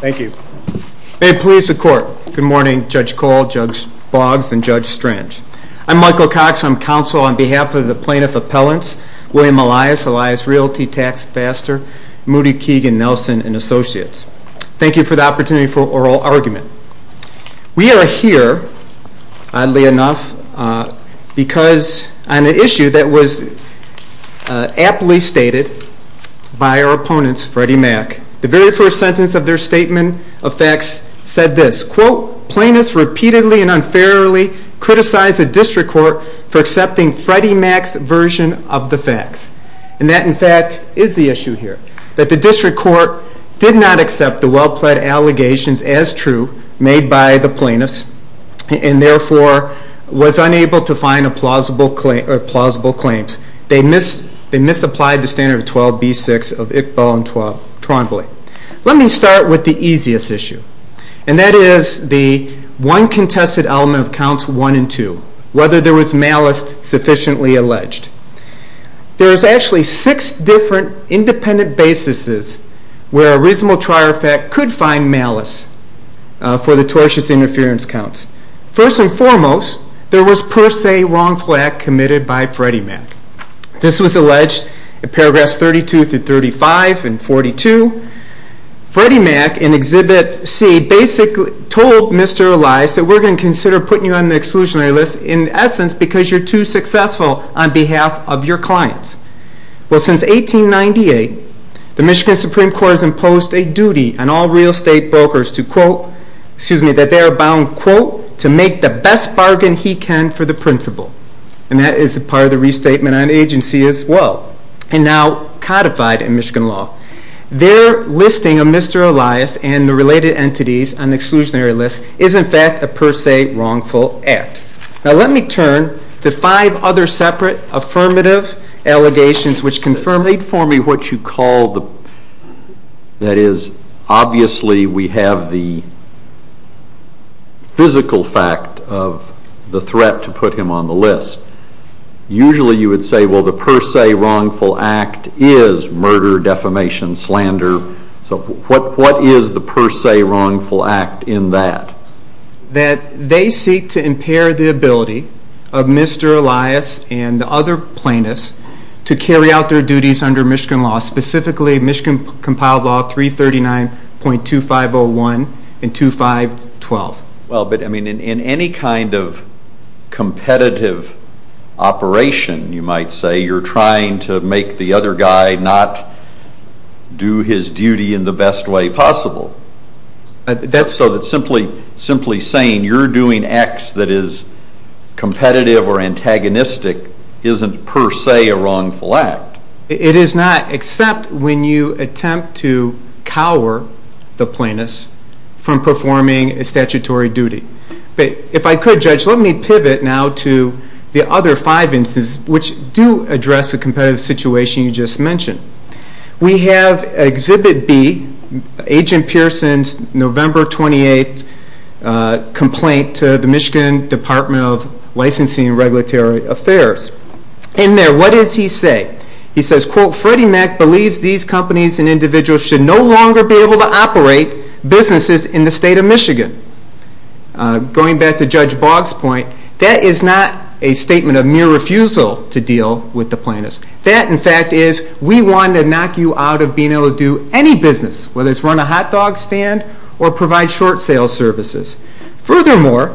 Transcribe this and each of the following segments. Thank you. May it please the court. Good morning Judge Cole, Judge Boggs and Judge Strange. I'm Michael Cox. I'm counsel on behalf of the plaintiff appellant William Elias, Elias Realty, TaxFaster, Moody, Keegan, Nelson and Associates. Thank you for the opportunity for oral argument. We are here, oddly enough, because on an issue that was aptly stated by our opponents Freddie Mac. The very first sentence of their statement of facts said this, quote, plaintiffs repeatedly and unfairly criticized a district court for accepting Freddie Mac's version of the facts. And that, in fact, is the issue here. That the district court did not accept the well-pled allegations as true made by the plaintiffs and therefore was unable to find a plausible claim or plausible claims. They mis- they misapplied the standard of 12b6 of Iqbal and Trombley. Let me start with the easiest issue and that is the one contested element of 12b2, whether there was malice sufficiently alleged. There is actually six different independent basis's where a reasonable trier fact could find malice for the tortious interference counts. First and foremost, there was per se wrong flag committed by Freddie Mac. This was alleged in paragraphs 32 through 35 and 42. Freddie Mac in exhibit C basically told Mr. Elias that we're going to consider putting you on the exclusionary list in essence because you're too successful on behalf of your clients. Well, since 1898, the Michigan Supreme Court has imposed a duty on all real estate brokers to, quote, excuse me, that they are bound, quote, to make the best bargain he can for the principal. And that is a part of the restatement on agency as well. And now codified in Michigan law. Their listing of Mr. Elias and the related entities on the per se wrongful act. Now let me turn to five other separate affirmative allegations which confirm. State for me what you call the, that is obviously we have the physical fact of the threat to put him on the list. Usually you would say, well, the per se wrongful act is murder, defamation, slander. So what is the per se wrongful act in that? That they seek to impair the ability of Mr. Elias and the other plaintiffs to carry out their duties under Michigan law, specifically Michigan compiled law 339.2501 and 2512. Well, but I mean, in any kind of competitive operation, you might say, you're trying to make the other guy not do his duty in the best way possible. That's so that simply saying you're doing X that is competitive or antagonistic isn't per se a wrongful act. It is not, except when you attempt to cower the plaintiffs from performing a statutory duty. But if I could, Judge, let me pivot now to the other five instances which do address the competitive situation you just mentioned. We have Exhibit B, Agent Pearson's November 28th complaint to the Michigan Department of Licensing and Regulatory Affairs. In there, what does he say? He says, quote, Freddie Mac believes these companies and individuals should no longer be able to operate businesses in the state of Michigan. Going back to Judge Boggs' point, that is not a statement of mere refusal to deal with the plaintiffs. That, in fact, is we want to knock you out of being able to do any business, whether it's run a hot dog stand or provide short sale services. Furthermore,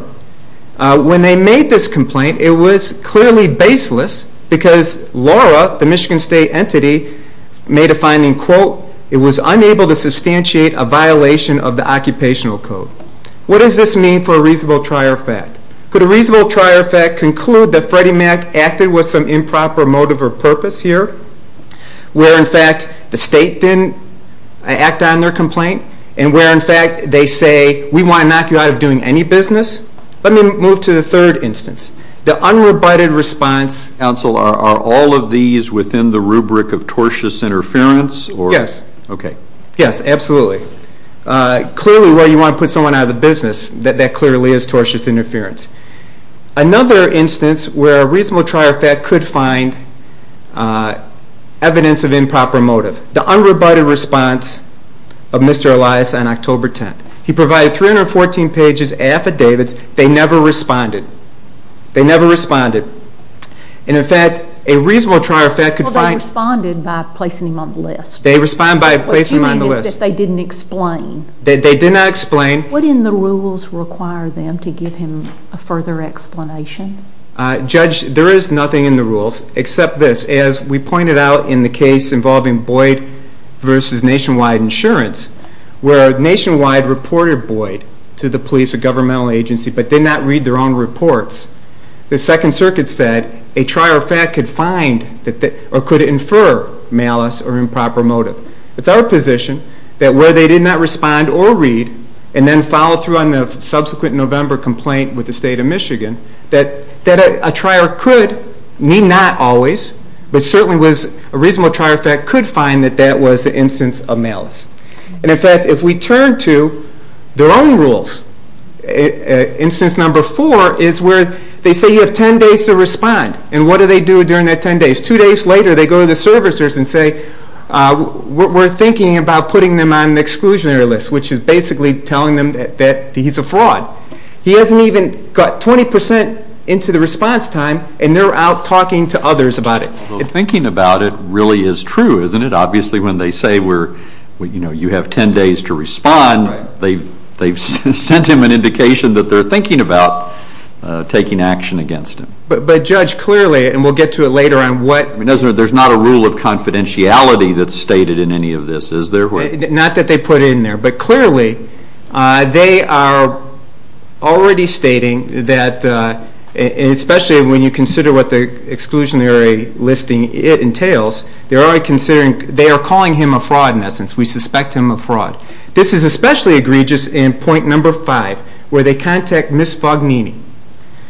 when they made this complaint, it was clearly baseless because Laura, the Michigan State entity, made a finding, quote, it was unable to substantiate a violation of the occupational code. What does this mean for a reasonable trier fact? Could a reasonable trier fact conclude that Freddie Mac acted with some improper motive or purpose here, where, in fact, the state didn't act on their complaint, and where, in fact, they say we want to knock you out of doing any business? Let me move to the third instance. The unrebutted response. Counsel, are all of these within the rubric of tortious interference or? Yes. Okay. Yes, absolutely. Clearly, where you want to put someone out of the business, that clearly is tortious interference. Another instance where a reasonable trier fact could find evidence of improper motive. The unrebutted response of Mr. Elias on October 10th. He provided 314 pages of affidavits. They never responded. They never responded. And, in fact, a reasonable trier fact could find. Well, they responded by placing him on the list. They responded by placing him on the list. What you mean is that they didn't explain. They did not explain. What in the rules require them to give him a further explanation? Judge, there is nothing in the rules except this. As we pointed out in the case involving Boyd versus Nationwide Insurance, where Nationwide reported Boyd to the police or governmental agency but did not read their own reports, the Second Circuit said a trier fact could find or could infer malice or improper motive. It's our position that where they did not respond or read and then follow through on the subsequent November complaint with the state of Michigan, that a trier could, need not always, but certainly was a reasonable trier fact could find that that was an instance of malice. And, in fact, if we turn to their own rules, instance number four is where they say you have 10 days to respond. And what do they do during that 10 days? Two days later they go to the servicers and say, we're thinking about putting them on the exclusionary list, which is basically telling them that he's a fraud. He hasn't even got 20% into the response time and they're out talking to others about it. Thinking about it really is true, isn't it? Obviously when they say you have 10 days to respond, they've sent him an indication that they're thinking about taking action against him. But, Judge, clearly, and we'll get to it later on what... There's not a rule of confidentiality that's stated in any of this, is there? Not that they put it in there. But, clearly, they are already stating that, especially when you consider what the exclusionary listing entails, they are calling him a fraud in essence. We suspect him of fraud. This is especially egregious in point number five, where they contact Ms. Fognini.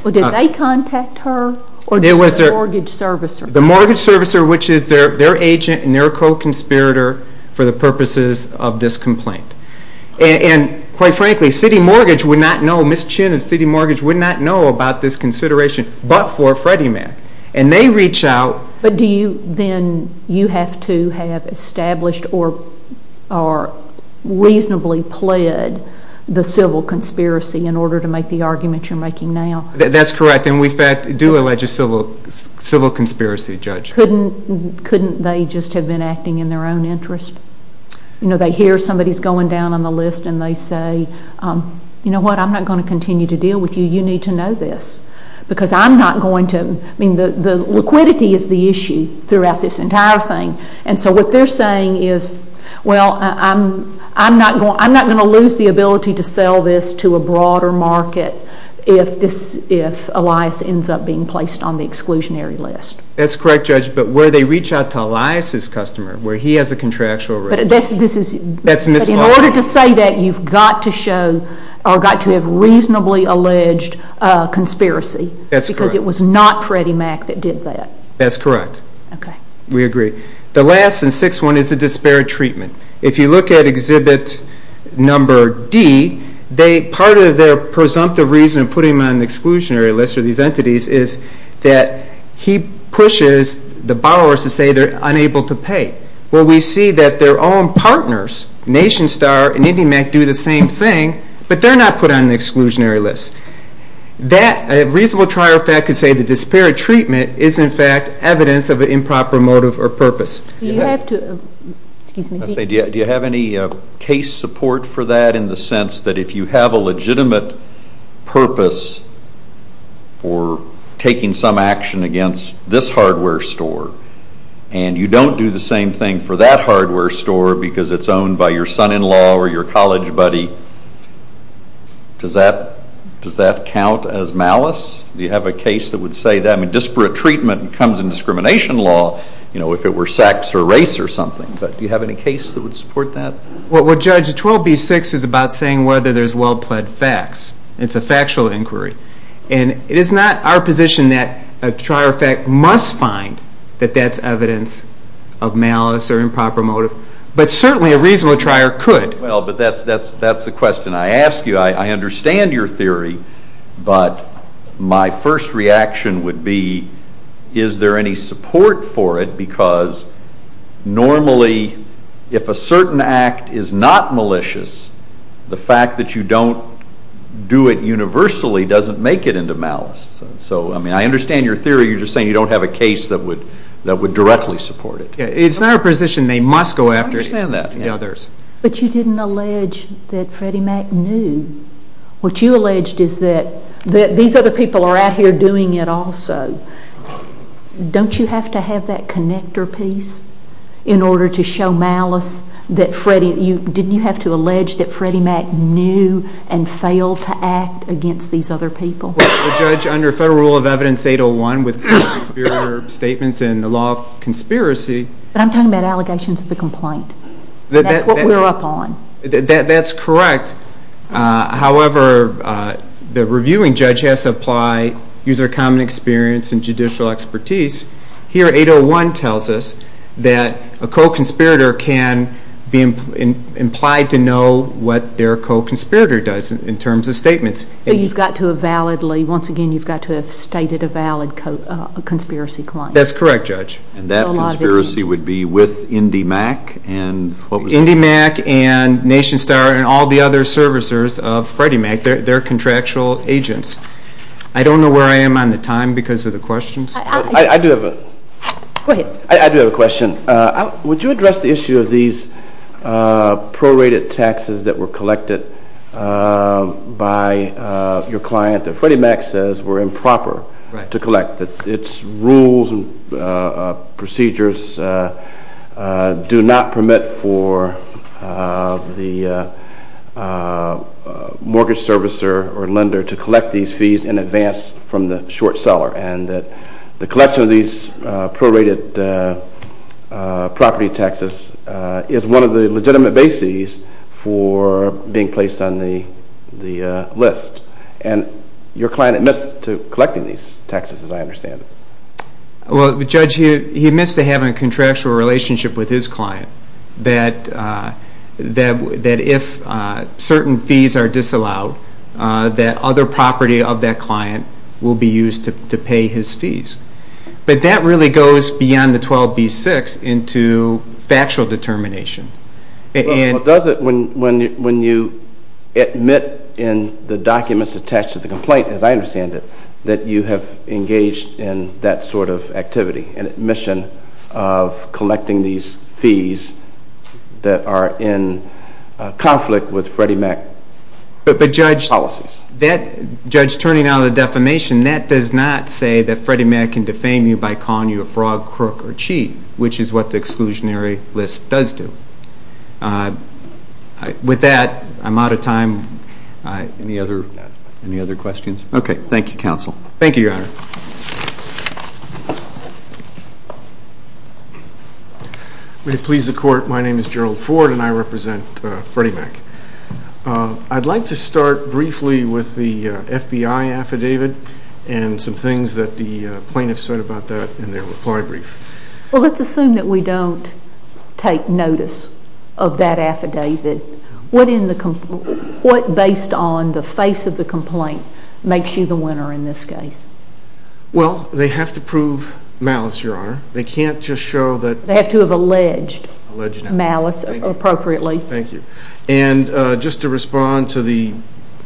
Well, did they contact her or just the mortgage servicer? The mortgage servicer, which is their agent and their co-conspirator for the purposes of this complaint. And, quite frankly, City Mortgage would not know, Ms. Chin of City Mortgage would not know about this consideration but for Freddie Mac, and they reach out... But do you then, you have to have established or reasonably pled the civil conspiracy in order to make the argument you're making now? That's correct. And we do allege a civil conspiracy, Judge. Couldn't they just have been acting in their own interest? You know, they hear somebody's going down on the list and they say, you know what, I'm not going to continue to deal with you. You need to know this because I'm not going to... I mean, the liquidity is the issue throughout this entire thing. And so what they're saying is, well, I'm not going to lose the ability to sell this to a broader market if Elias ends up being placed on the exclusionary list. That's correct, Judge. But where they reach out to Elias' customer, where he has a contractual... But this is... That's Ms. Martin. But in order to say that, you've got to show or got to have reasonably alleged conspiracy because it was not Freddie Mac that did that. That's correct. Okay. We agree. The last and sixth one is the disparate treatment. If you look at exhibit number D, part of their presumptive reason of putting him on the exclusionary list for these entities is that he pushes the borrowers to say they're unable to pay. Well, we see that their own partners, NationStar and IndyMac, do the same thing, but they're not put on the exclusionary list. That reasonable trier of fact could say the disparate treatment is, in fact, evidence of an improper motive or purpose. You have to... Excuse me. I was going to say, do you have any case support for that in the sense that if you have a legitimate purpose for taking some action against this hardware store and you don't do the same thing for that hardware store because it's owned by your son-in-law or your college buddy, does that count as malice? Do you have a case that would say that? I mean, disparate treatment comes in discrimination law. You know, if it were sex or race or something, but do you have any case that would support that? Well, Judge, 12B-6 is about saying whether there's well-pled facts. It's a factual inquiry. And it is not our position that a trier of fact must find that that's evidence of malice or improper motive, but certainly a reasonable trier could. Well, but that's the question I ask you. I understand your theory, but my first reaction would be, is there any support for it, because normally if a certain act is not malicious, the fact that you don't do it universally doesn't make it into malice. So, I mean, I understand your theory. You're just saying you don't have a case that would directly support it. Yeah. It's not our position. They must go after it. I understand that. But you didn't allege that Freddie Mac knew. What you alleged is that these other people are out here doing it also. Don't you have to have that connector piece in order to show malice that Freddie, didn't you have to allege that Freddie Mac knew and failed to act against these other people? Well, Judge, under Federal Rule of Evidence 801, with conspiracy statements and the law of conspiracy. But I'm talking about allegations of the complaint. That's what we're up on. That's correct. However, the reviewing judge has to apply, use their common experience, and judicial expertise, here 801 tells us that a co-conspirator can be implied to know what their co-conspirator does in terms of statements. But you've got to have validly, once again, you've got to have stated a valid conspiracy claim. That's correct, Judge. And that conspiracy would be with Indy Mac and what was it? Indy Mac and Nation Star and all the other servicers of Freddie Mac. They're contractual agents. I don't know where I am on the time because of the questions. I do have a question. Would you address the issue of these prorated taxes that were collected by your client that Freddie Mac says were improper to collect, that its rules and procedures do not permit for the mortgage servicer or lender to collect these fees in advance from the short seller, and that the collection of these prorated property taxes is one of the legitimate bases for being placed on the list? And your client admits to collecting these taxes, as I understand it. Well, Judge, he admits to having a contractual relationship with his client that if certain fees are disallowed, that other property of that client will be used to pay his fees. But that really goes beyond the 12B6 into factual determination. Well, does it, when you admit in the documents attached to the complaint, as I understand it, that you have engaged in that sort of activity, an admission of collecting these fees that are in conflict with Freddie Mac's policies? But, Judge, turning out of the defamation, that does not say that Freddie Mac can defame you by calling you a frog, crook, or cheat, which is what the exclusionary list does do. With that, I'm out of time. Any other questions? Okay. Thank you, Counsel. Thank you, Your Honor. May it please the Court, my name is Gerald Ford, and I represent Freddie Mac. I'd like to start briefly with the FBI affidavit and some things that the plaintiffs said about that in their reply brief. Well, let's assume that we don't take notice of that affidavit. What based on the face of the complaint makes you the winner in this case? Well, they have to prove malice, Your Honor. They can't just show that... They have to have alleged malice appropriately. Thank you. And just to respond to the,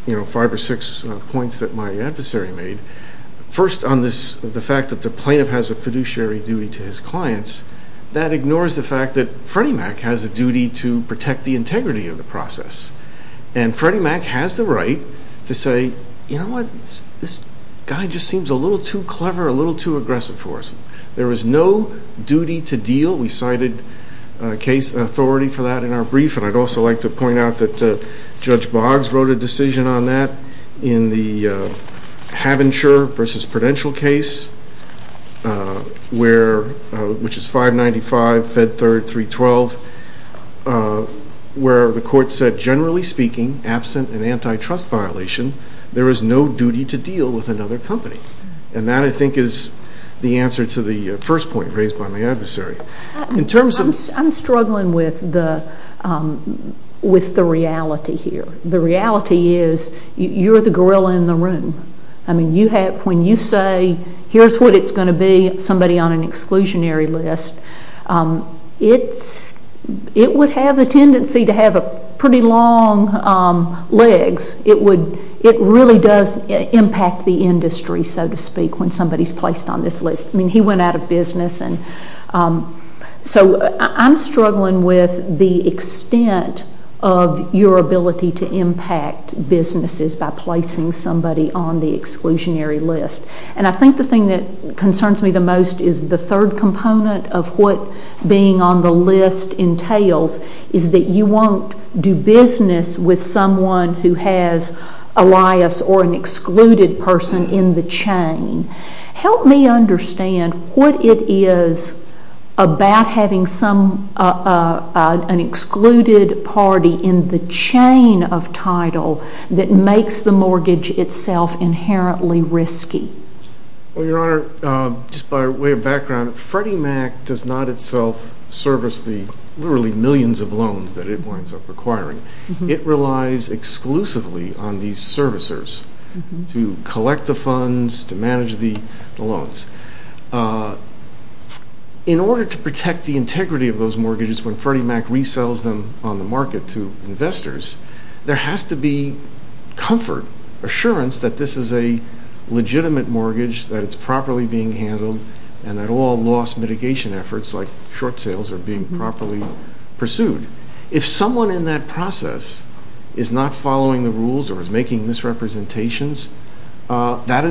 you know, five or six points that my adversary made, first on the fact that the plaintiff has a fiduciary duty to his clients, that ignores the fact that Freddie Mac has a duty to protect the integrity of the process. And Freddie Mac has the right to say, you know what? This guy just seems a little too clever, a little too aggressive for us. There is no duty to deal. We cited authority for that in our brief, and I'd also like to point out that Judge Boggs wrote a decision on that in the Havenshire versus Prudential case, which is 595, Fed 312, where the court said, generally speaking, absent an antitrust violation, there is no duty to deal with another company. And that, I think, is the answer to the first point raised by my adversary. In terms of... I'm struggling with the reality here. The reality is you're the gorilla in the room. I mean, when you say, here's what it's going to be, somebody on an exclusionary list, it would have a tendency to have pretty long legs. It would...it really does impact the industry, so to speak, when somebody's placed on this list. I mean, he went out of business, and so I'm struggling with the extent of your ability to impact businesses by placing somebody on the exclusionary list. And I think the thing that concerns me the most is the third component of what being on the list entails, is that you won't do business with someone who has a liais or an excluded person in the chain. Help me understand what it is about having some...an excluded party in the chain of title that makes the mortgage itself inherently risky. Well, Your Honor, just by way of background, Freddie Mac does not itself service the literally millions of loans that it winds up requiring. It relies exclusively on these servicers to collect the funds, to manage the loans. In order to protect the integrity of those mortgages when Freddie Mac resells them on the market to investors, there has to be comfort, assurance that this is a legitimate mortgage, that it's properly being handled, and that all loss mitigation efforts, like short sales, are being properly pursued. If someone in that process is not following the rules or is making misrepresentations, that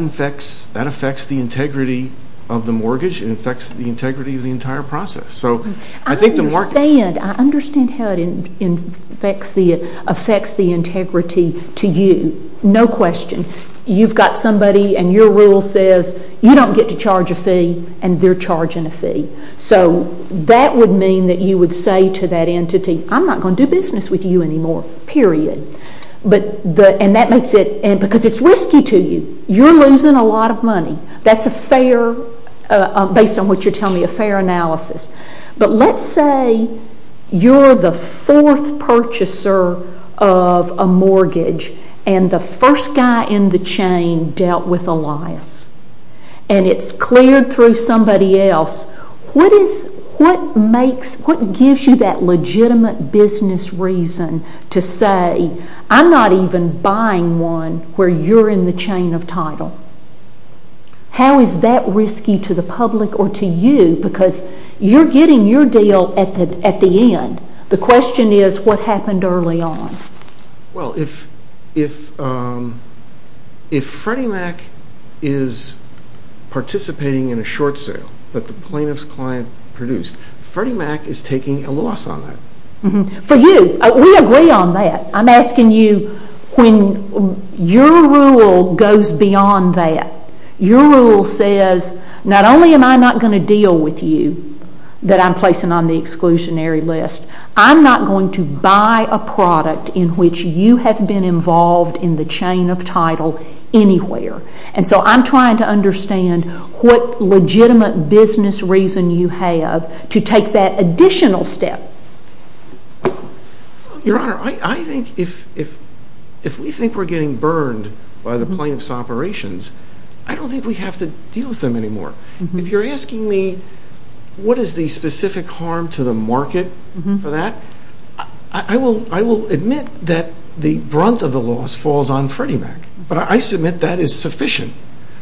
affects the integrity of the mortgage. It affects the integrity of the entire process. So I think the market... I understand. I understand how it affects the integrity to you. No question. You've got somebody and your rule says you don't get to charge a fee, and they're charging a fee. So that would mean that you would say to that entity, I'm not going to do business with you anymore, period. But the...and that makes it...because it's risky to you. You're losing a lot of money. That's a fair...based on what you're telling me, a fair analysis. But let's say you're the fourth purchaser of a mortgage, and the first guy in the chain dealt with a loss, and it's cleared through somebody else. What is...what makes...what gives you that legitimate business reason to say, I'm not even buying one where you're in the chain of title? How is that risky to the public or to you? Because you're getting your deal at the end. The question is, what happened early on? Well, if Freddie Mac is participating in a short sale that the plaintiff's client produced, Freddie Mac is taking a loss on that. For you, we agree on that. I'm asking you, when your rule goes beyond that, your rule says, not only am I not going to deal with you that I'm placing on the exclusionary list, I'm not going to buy a product in which you have been involved in the chain of title anywhere. And so I'm trying to understand what legitimate business reason you have to take that additional step. Your Honor, I think if we think we're getting burned by the plaintiff's operations, I don't think we have to deal with them anymore. If you're asking me what is the specific harm to the market for that, I will admit that the brunt of the loss falls on Freddie Mac, but I submit that is sufficient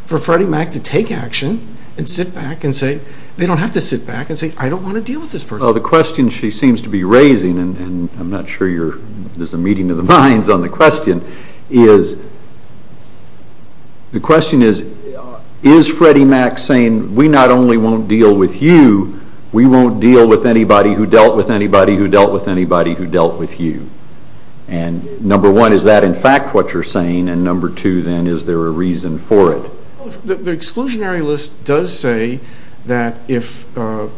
for Freddie Mac to take action and sit back and say, they don't have to sit back and say, I don't want to deal with this person. So the question she seems to be raising, and I'm not sure there's a meeting of the minds on the question, is, the question is, is Freddie Mac saying, we not only won't deal with you, we won't deal with anybody who dealt with anybody who dealt with anybody who dealt with you? And number one, is that in fact what you're saying? And number two, then, is there a reason for it? The exclusionary list does say that if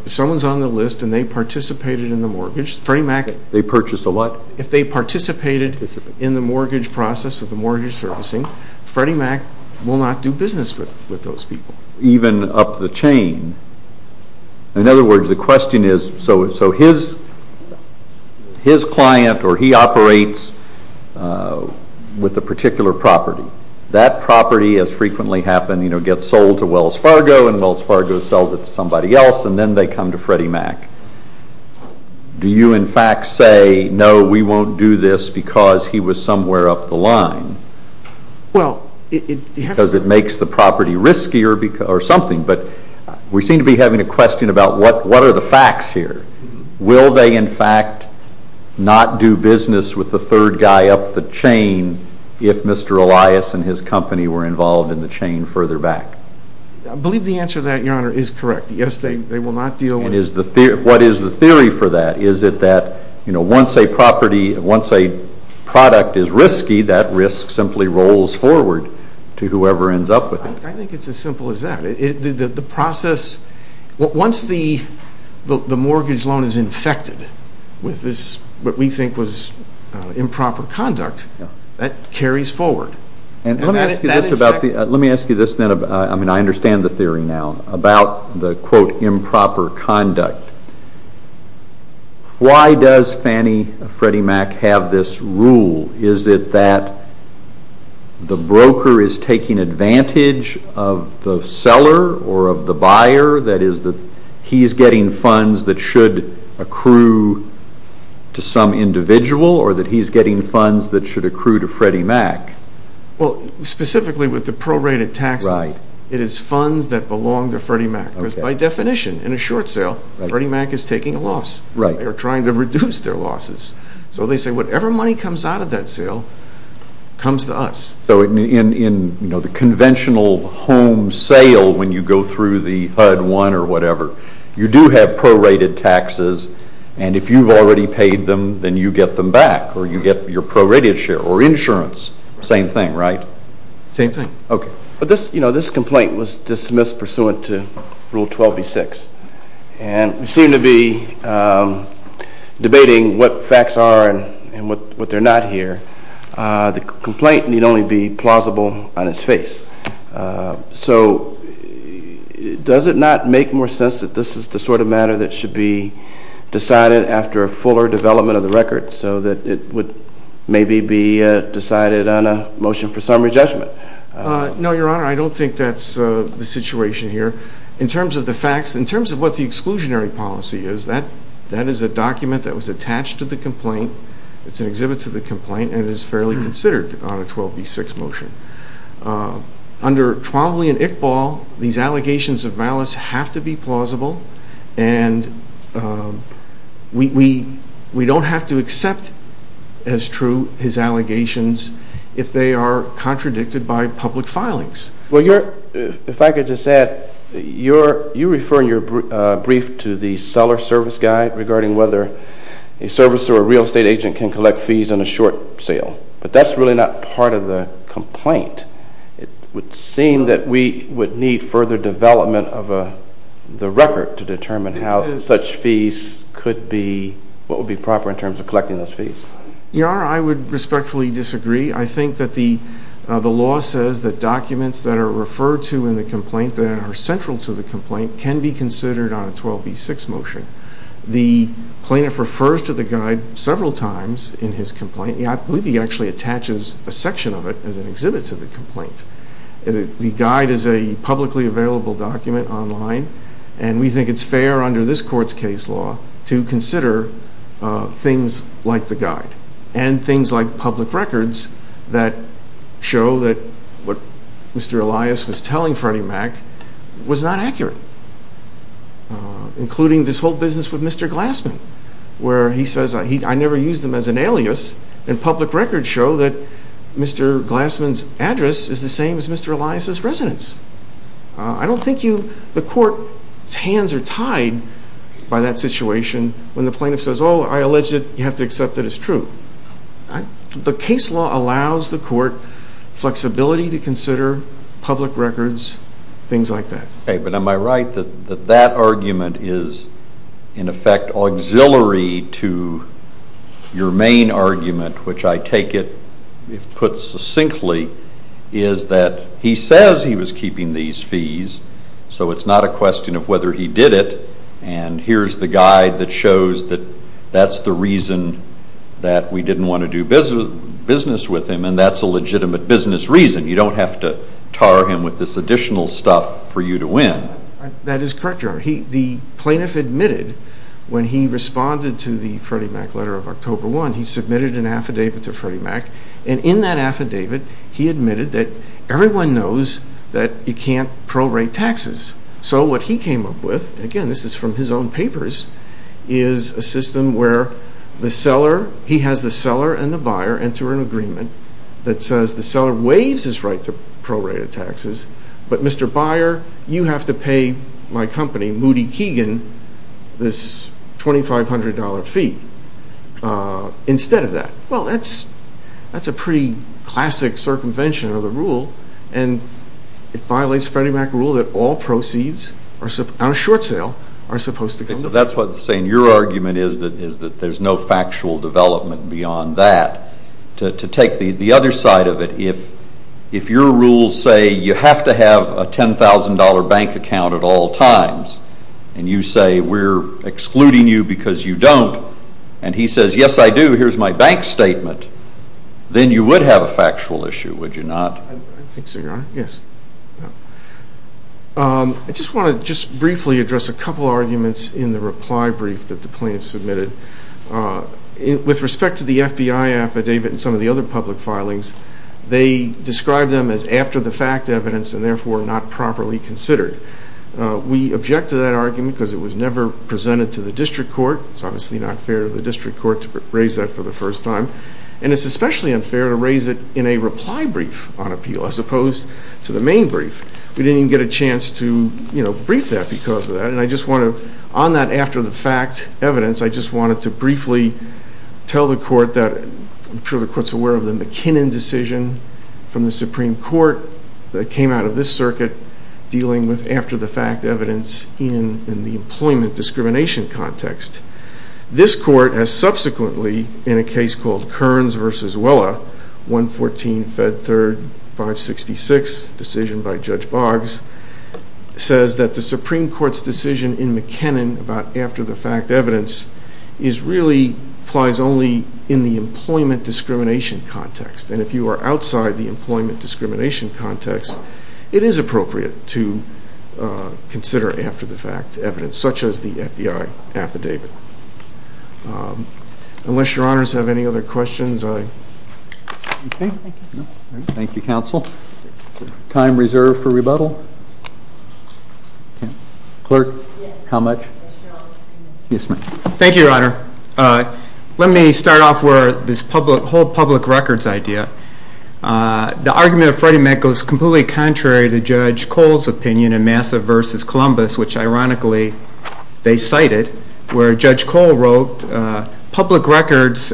someone's on the list and they participated in the mortgage, Freddie Mac... They purchased a what? If they participated in the mortgage process, the mortgage servicing, Freddie Mac will not do business with those people. Even up the chain, in other words, the question is, so his client, or he operates with a particular property. That property, as frequently happened, you know, gets sold to Wells Fargo, and Wells Fargo sells it to somebody else, and then they come to Freddie Mac. Do you, in fact, say, no, we won't do this because he was somewhere up the line? Well, it... Because it makes the property riskier or something, but we seem to be having a question about what are the facts here? Will they, in fact, not do business with the third guy up the chain if Mr. Elias and his company were involved in the chain further back? I believe the answer to that, Your Honor, is correct. Yes, they will not deal with... And is the theory... What is the theory for that? Is it that, you know, once a property, once a product is risky, that risk simply rolls forward to whoever ends up with it? I think it's as simple as that. The process... Once the mortgage loan is infected with this, what we think was improper conduct, that carries forward. Let me ask you this then. I mean, I understand the theory now about the, quote, improper conduct. Why does Fannie Freddie Mac have this rule? Is it that the broker is taking advantage of the seller or of the buyer? That is, that he's getting funds that should accrue to some individual or that he's getting funds that should accrue to Freddie Mac? Well, specifically with the prorated taxes, it is funds that belong to Freddie Mac. Because by definition, in a short sale, Freddie Mac is taking a loss. They are trying to reduce their losses. So they say whatever money comes out of that sale comes to us. So in, you know, the conventional home sale when you go through the HUD 1 or whatever, you do have prorated taxes, and if you've already paid them, then you get them back or you get your prorated share or insurance. Same thing, right? Same thing. Okay. But this, you know, this complaint was dismissed pursuant to Rule 12b-6. And we seem to be debating what facts are and what they're not here. The complaint need only be plausible on its face. So does it not make more sense that this is the sort of matter that should be decided after a fuller development of the record so that it would maybe be decided on a motion for summary judgment? No, Your Honor, I don't think that's the situation here. In terms of the facts, in terms of what the exclusionary policy is, that is a document that was attached to the complaint, it's an exhibit to the complaint, and it is fairly considered on a 12b-6 motion. Under Twombly and Iqbal, these allegations of malice have to be plausible. And we don't have to accept as true his allegations if they are contradicted by public filings. Well, Your Honor, if I could just add, you refer in your brief to the seller service guide regarding whether a service or a real estate agent can collect fees on a short sale. But that's really not part of the complaint. It would seem that we would need further development of the record to determine how such fees could be, what would be proper in terms of collecting those fees. Your Honor, I would respectfully disagree. I think that the law says that documents that are referred to in the complaint that are central to the complaint can be considered on a 12b-6 motion. The plaintiff refers to the guide several times in his complaint. I believe he actually attaches a section of it as an exhibit to the complaint. The guide is a publicly available document online, and we think it's fair under this court's case law to consider things like the guide and things like public records that show that what Mr. Elias was telling Freddie Mac was not accurate, including this whole business with Mr. Glassman, where he says, I never used them as an alias, and public records show that Mr. Glassman's address is the same as Mr. Elias' residence. I don't think you, the court's hands are tied by that situation when the plaintiff says, oh, I allege that you have to accept that it's true. The case law allows the court flexibility to consider public records, things like that. Okay, but am I right that that argument is, in effect, auxiliary to your main argument, which I take it, if put succinctly, is that he says he was keeping these fees, so it's not a question of whether he did it, and here's the guide that shows that that's the reason that we didn't want to do business with him, and that's a legitimate business reason. You don't have to tar him with this additional stuff for you to win. That is correct, Your Honor. The plaintiff admitted when he responded to the Freddie Mac letter of October 1, he submitted an affidavit to Freddie Mac, and in that affidavit, he admitted that everyone knows that you can't prorate taxes. So, what he came up with, again, this is from his own papers, is a system where the seller, he has the seller and the buyer enter an agreement that says the seller waives his right to prorate taxes, but Mr. Buyer, you have to pay my company, Moody Keegan, this $2,500 fee, instead of that. Well, that's a pretty classic circumvention of the rule, and it violates Freddie Mac rule that all proceeds on a short sale are supposed to come to pay. That's what I'm saying. Your argument is that there's no factual development beyond that. To take the other side of it, if your rules say you have to have a $10,000 bank account at all times, and you say we're excluding you because you don't, and he says, yes, I do, here's my bank statement, then you would have a factual issue, would you not? I think so, Your Honor. Yes. I just want to just briefly address a couple arguments in the reply brief that the plaintiff submitted. With respect to the FBI affidavit and some of the other public filings, they described them as after the fact evidence and therefore not properly considered. We object to that argument because it was never presented to the district court. It's obviously not fair to the district court to raise that for the first time, and it's especially unfair to raise it in a reply brief on appeal. As opposed to the main brief, we didn't even get a chance to, you know, brief that because of that. And I just want to, on that after the fact evidence, I just wanted to briefly tell the court that I'm sure the court's aware of the McKinnon decision from the Supreme Court that came out of this circuit dealing with after the fact evidence in the employment discrimination context. This court has subsequently, in a case called Kearns v. Wella, 114 Fed Third 566, decision by Judge Boggs, says that the Supreme Court's decision in McKinnon about after the fact evidence is really, applies only in the employment discrimination context. And if you are outside the employment discrimination context, it is appropriate to consider after the fact evidence, such as the FBI affidavit. Unless your honors have any other questions, I. Okay. Thank you, counsel. Time reserved for rebuttal? Clerk, how much? Yes, ma'am. Thank you, your honor. Let me start off with this public, whole public records idea. The argument of Freddie Mac goes completely contrary to Judge Cole's opinion in Massa v. Columbus, which ironically, they cited, where Judge Cole wrote, public records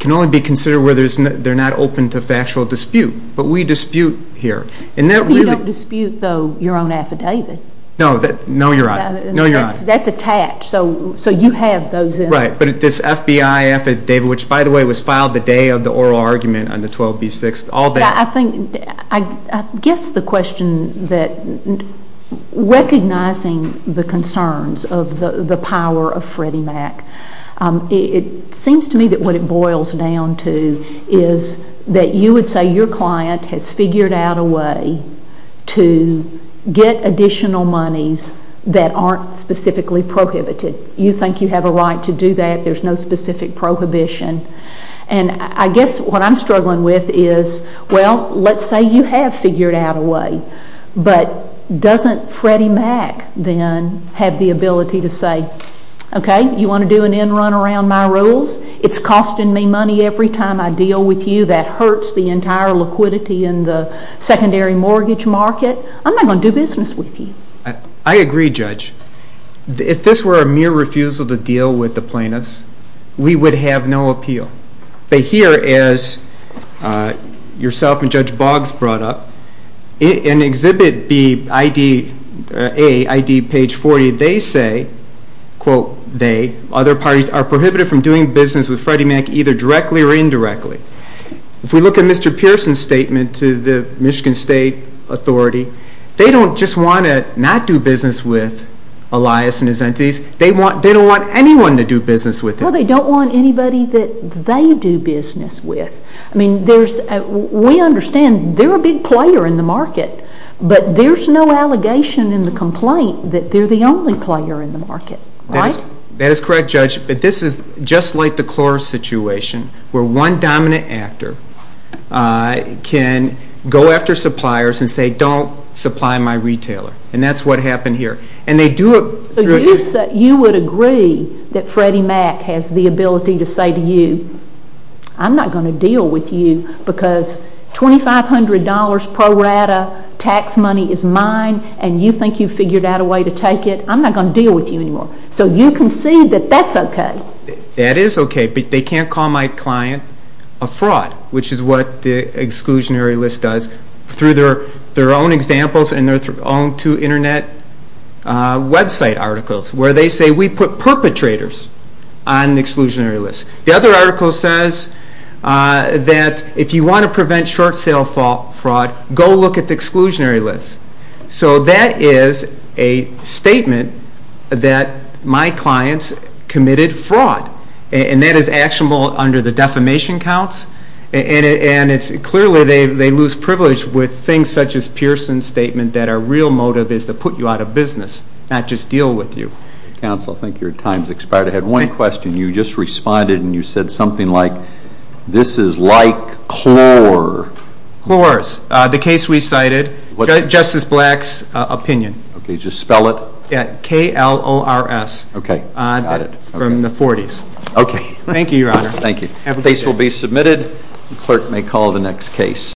can only be considered where they're not open to factual dispute. But we dispute here. And that really. You don't dispute, though, your own affidavit. No, your honor. No, your honor. That's attached, so you have those in. Right. But this FBI affidavit, which by the way, was filed the day of the oral argument on the 12B6, all that. I think, I guess the question that, recognizing the concerns of the power of Freddie Mac, it seems to me that what it boils down to is that you would say your client has figured out a way to get additional monies that aren't specifically prohibited. You think you have a right to do that. There's no specific prohibition. And I guess what I'm struggling with is, well, let's say you have figured out a way, but doesn't Freddie Mac then have the ability to say, okay, you want to do an end run around my rules? It's costing me money every time I deal with you. That hurts the entire liquidity in the secondary mortgage market. I'm not going to do business with you. I agree, Judge. If this were a mere refusal to deal with the plaintiffs, we would have no appeal. But here, as yourself and Judge Boggs brought up, in Exhibit A, ID page 40, they say, quote they, other parties are prohibited from doing business with Freddie Mac either directly or indirectly. If we look at Mr. Pearson's statement to the Michigan State Authority, they don't just want to not do business with Elias and his entities. They don't want anyone to do business with him. Well, they don't want anybody that they do business with. I mean, we understand they're a big player in the market, but there's no allegation in the complaint that they're the only player in the market, right? That is correct, Judge. But this is just like the Cloris situation where one dominant actor can go after suppliers and say, don't supply my retailer. And that's what happened here. And they do it through. You would agree that Freddie Mac has the ability to say to you, I'm not going to deal with you because $2,500 pro rata tax money is mine and you think you've figured out a way to take it, I'm not going to deal with you anymore. So you concede that that's okay. That is okay, but they can't call my client a fraud, which is what the exclusionary list does through their own examples and their own two internet website articles where they say we put perpetrators on the exclusionary list. The other article says that if you want to prevent short sale fraud, go look at the exclusionary list. So that is a statement that my clients committed fraud. And that is actionable under the defamation counts. And it's clearly they lose privilege with things such as Pearson's statement that our real motive is to put you out of business, not just deal with you. Council, I think your time has expired. I had one question. You just responded and you said something like, this is like Clor. Cloris, the case we cited, Justice Black's opinion. Okay, just spell it. K-L-O-R-S. Okay, got it. From the 40s. Okay. Thank you, your honor. Thank you. The case will be submitted. The clerk may call the next case.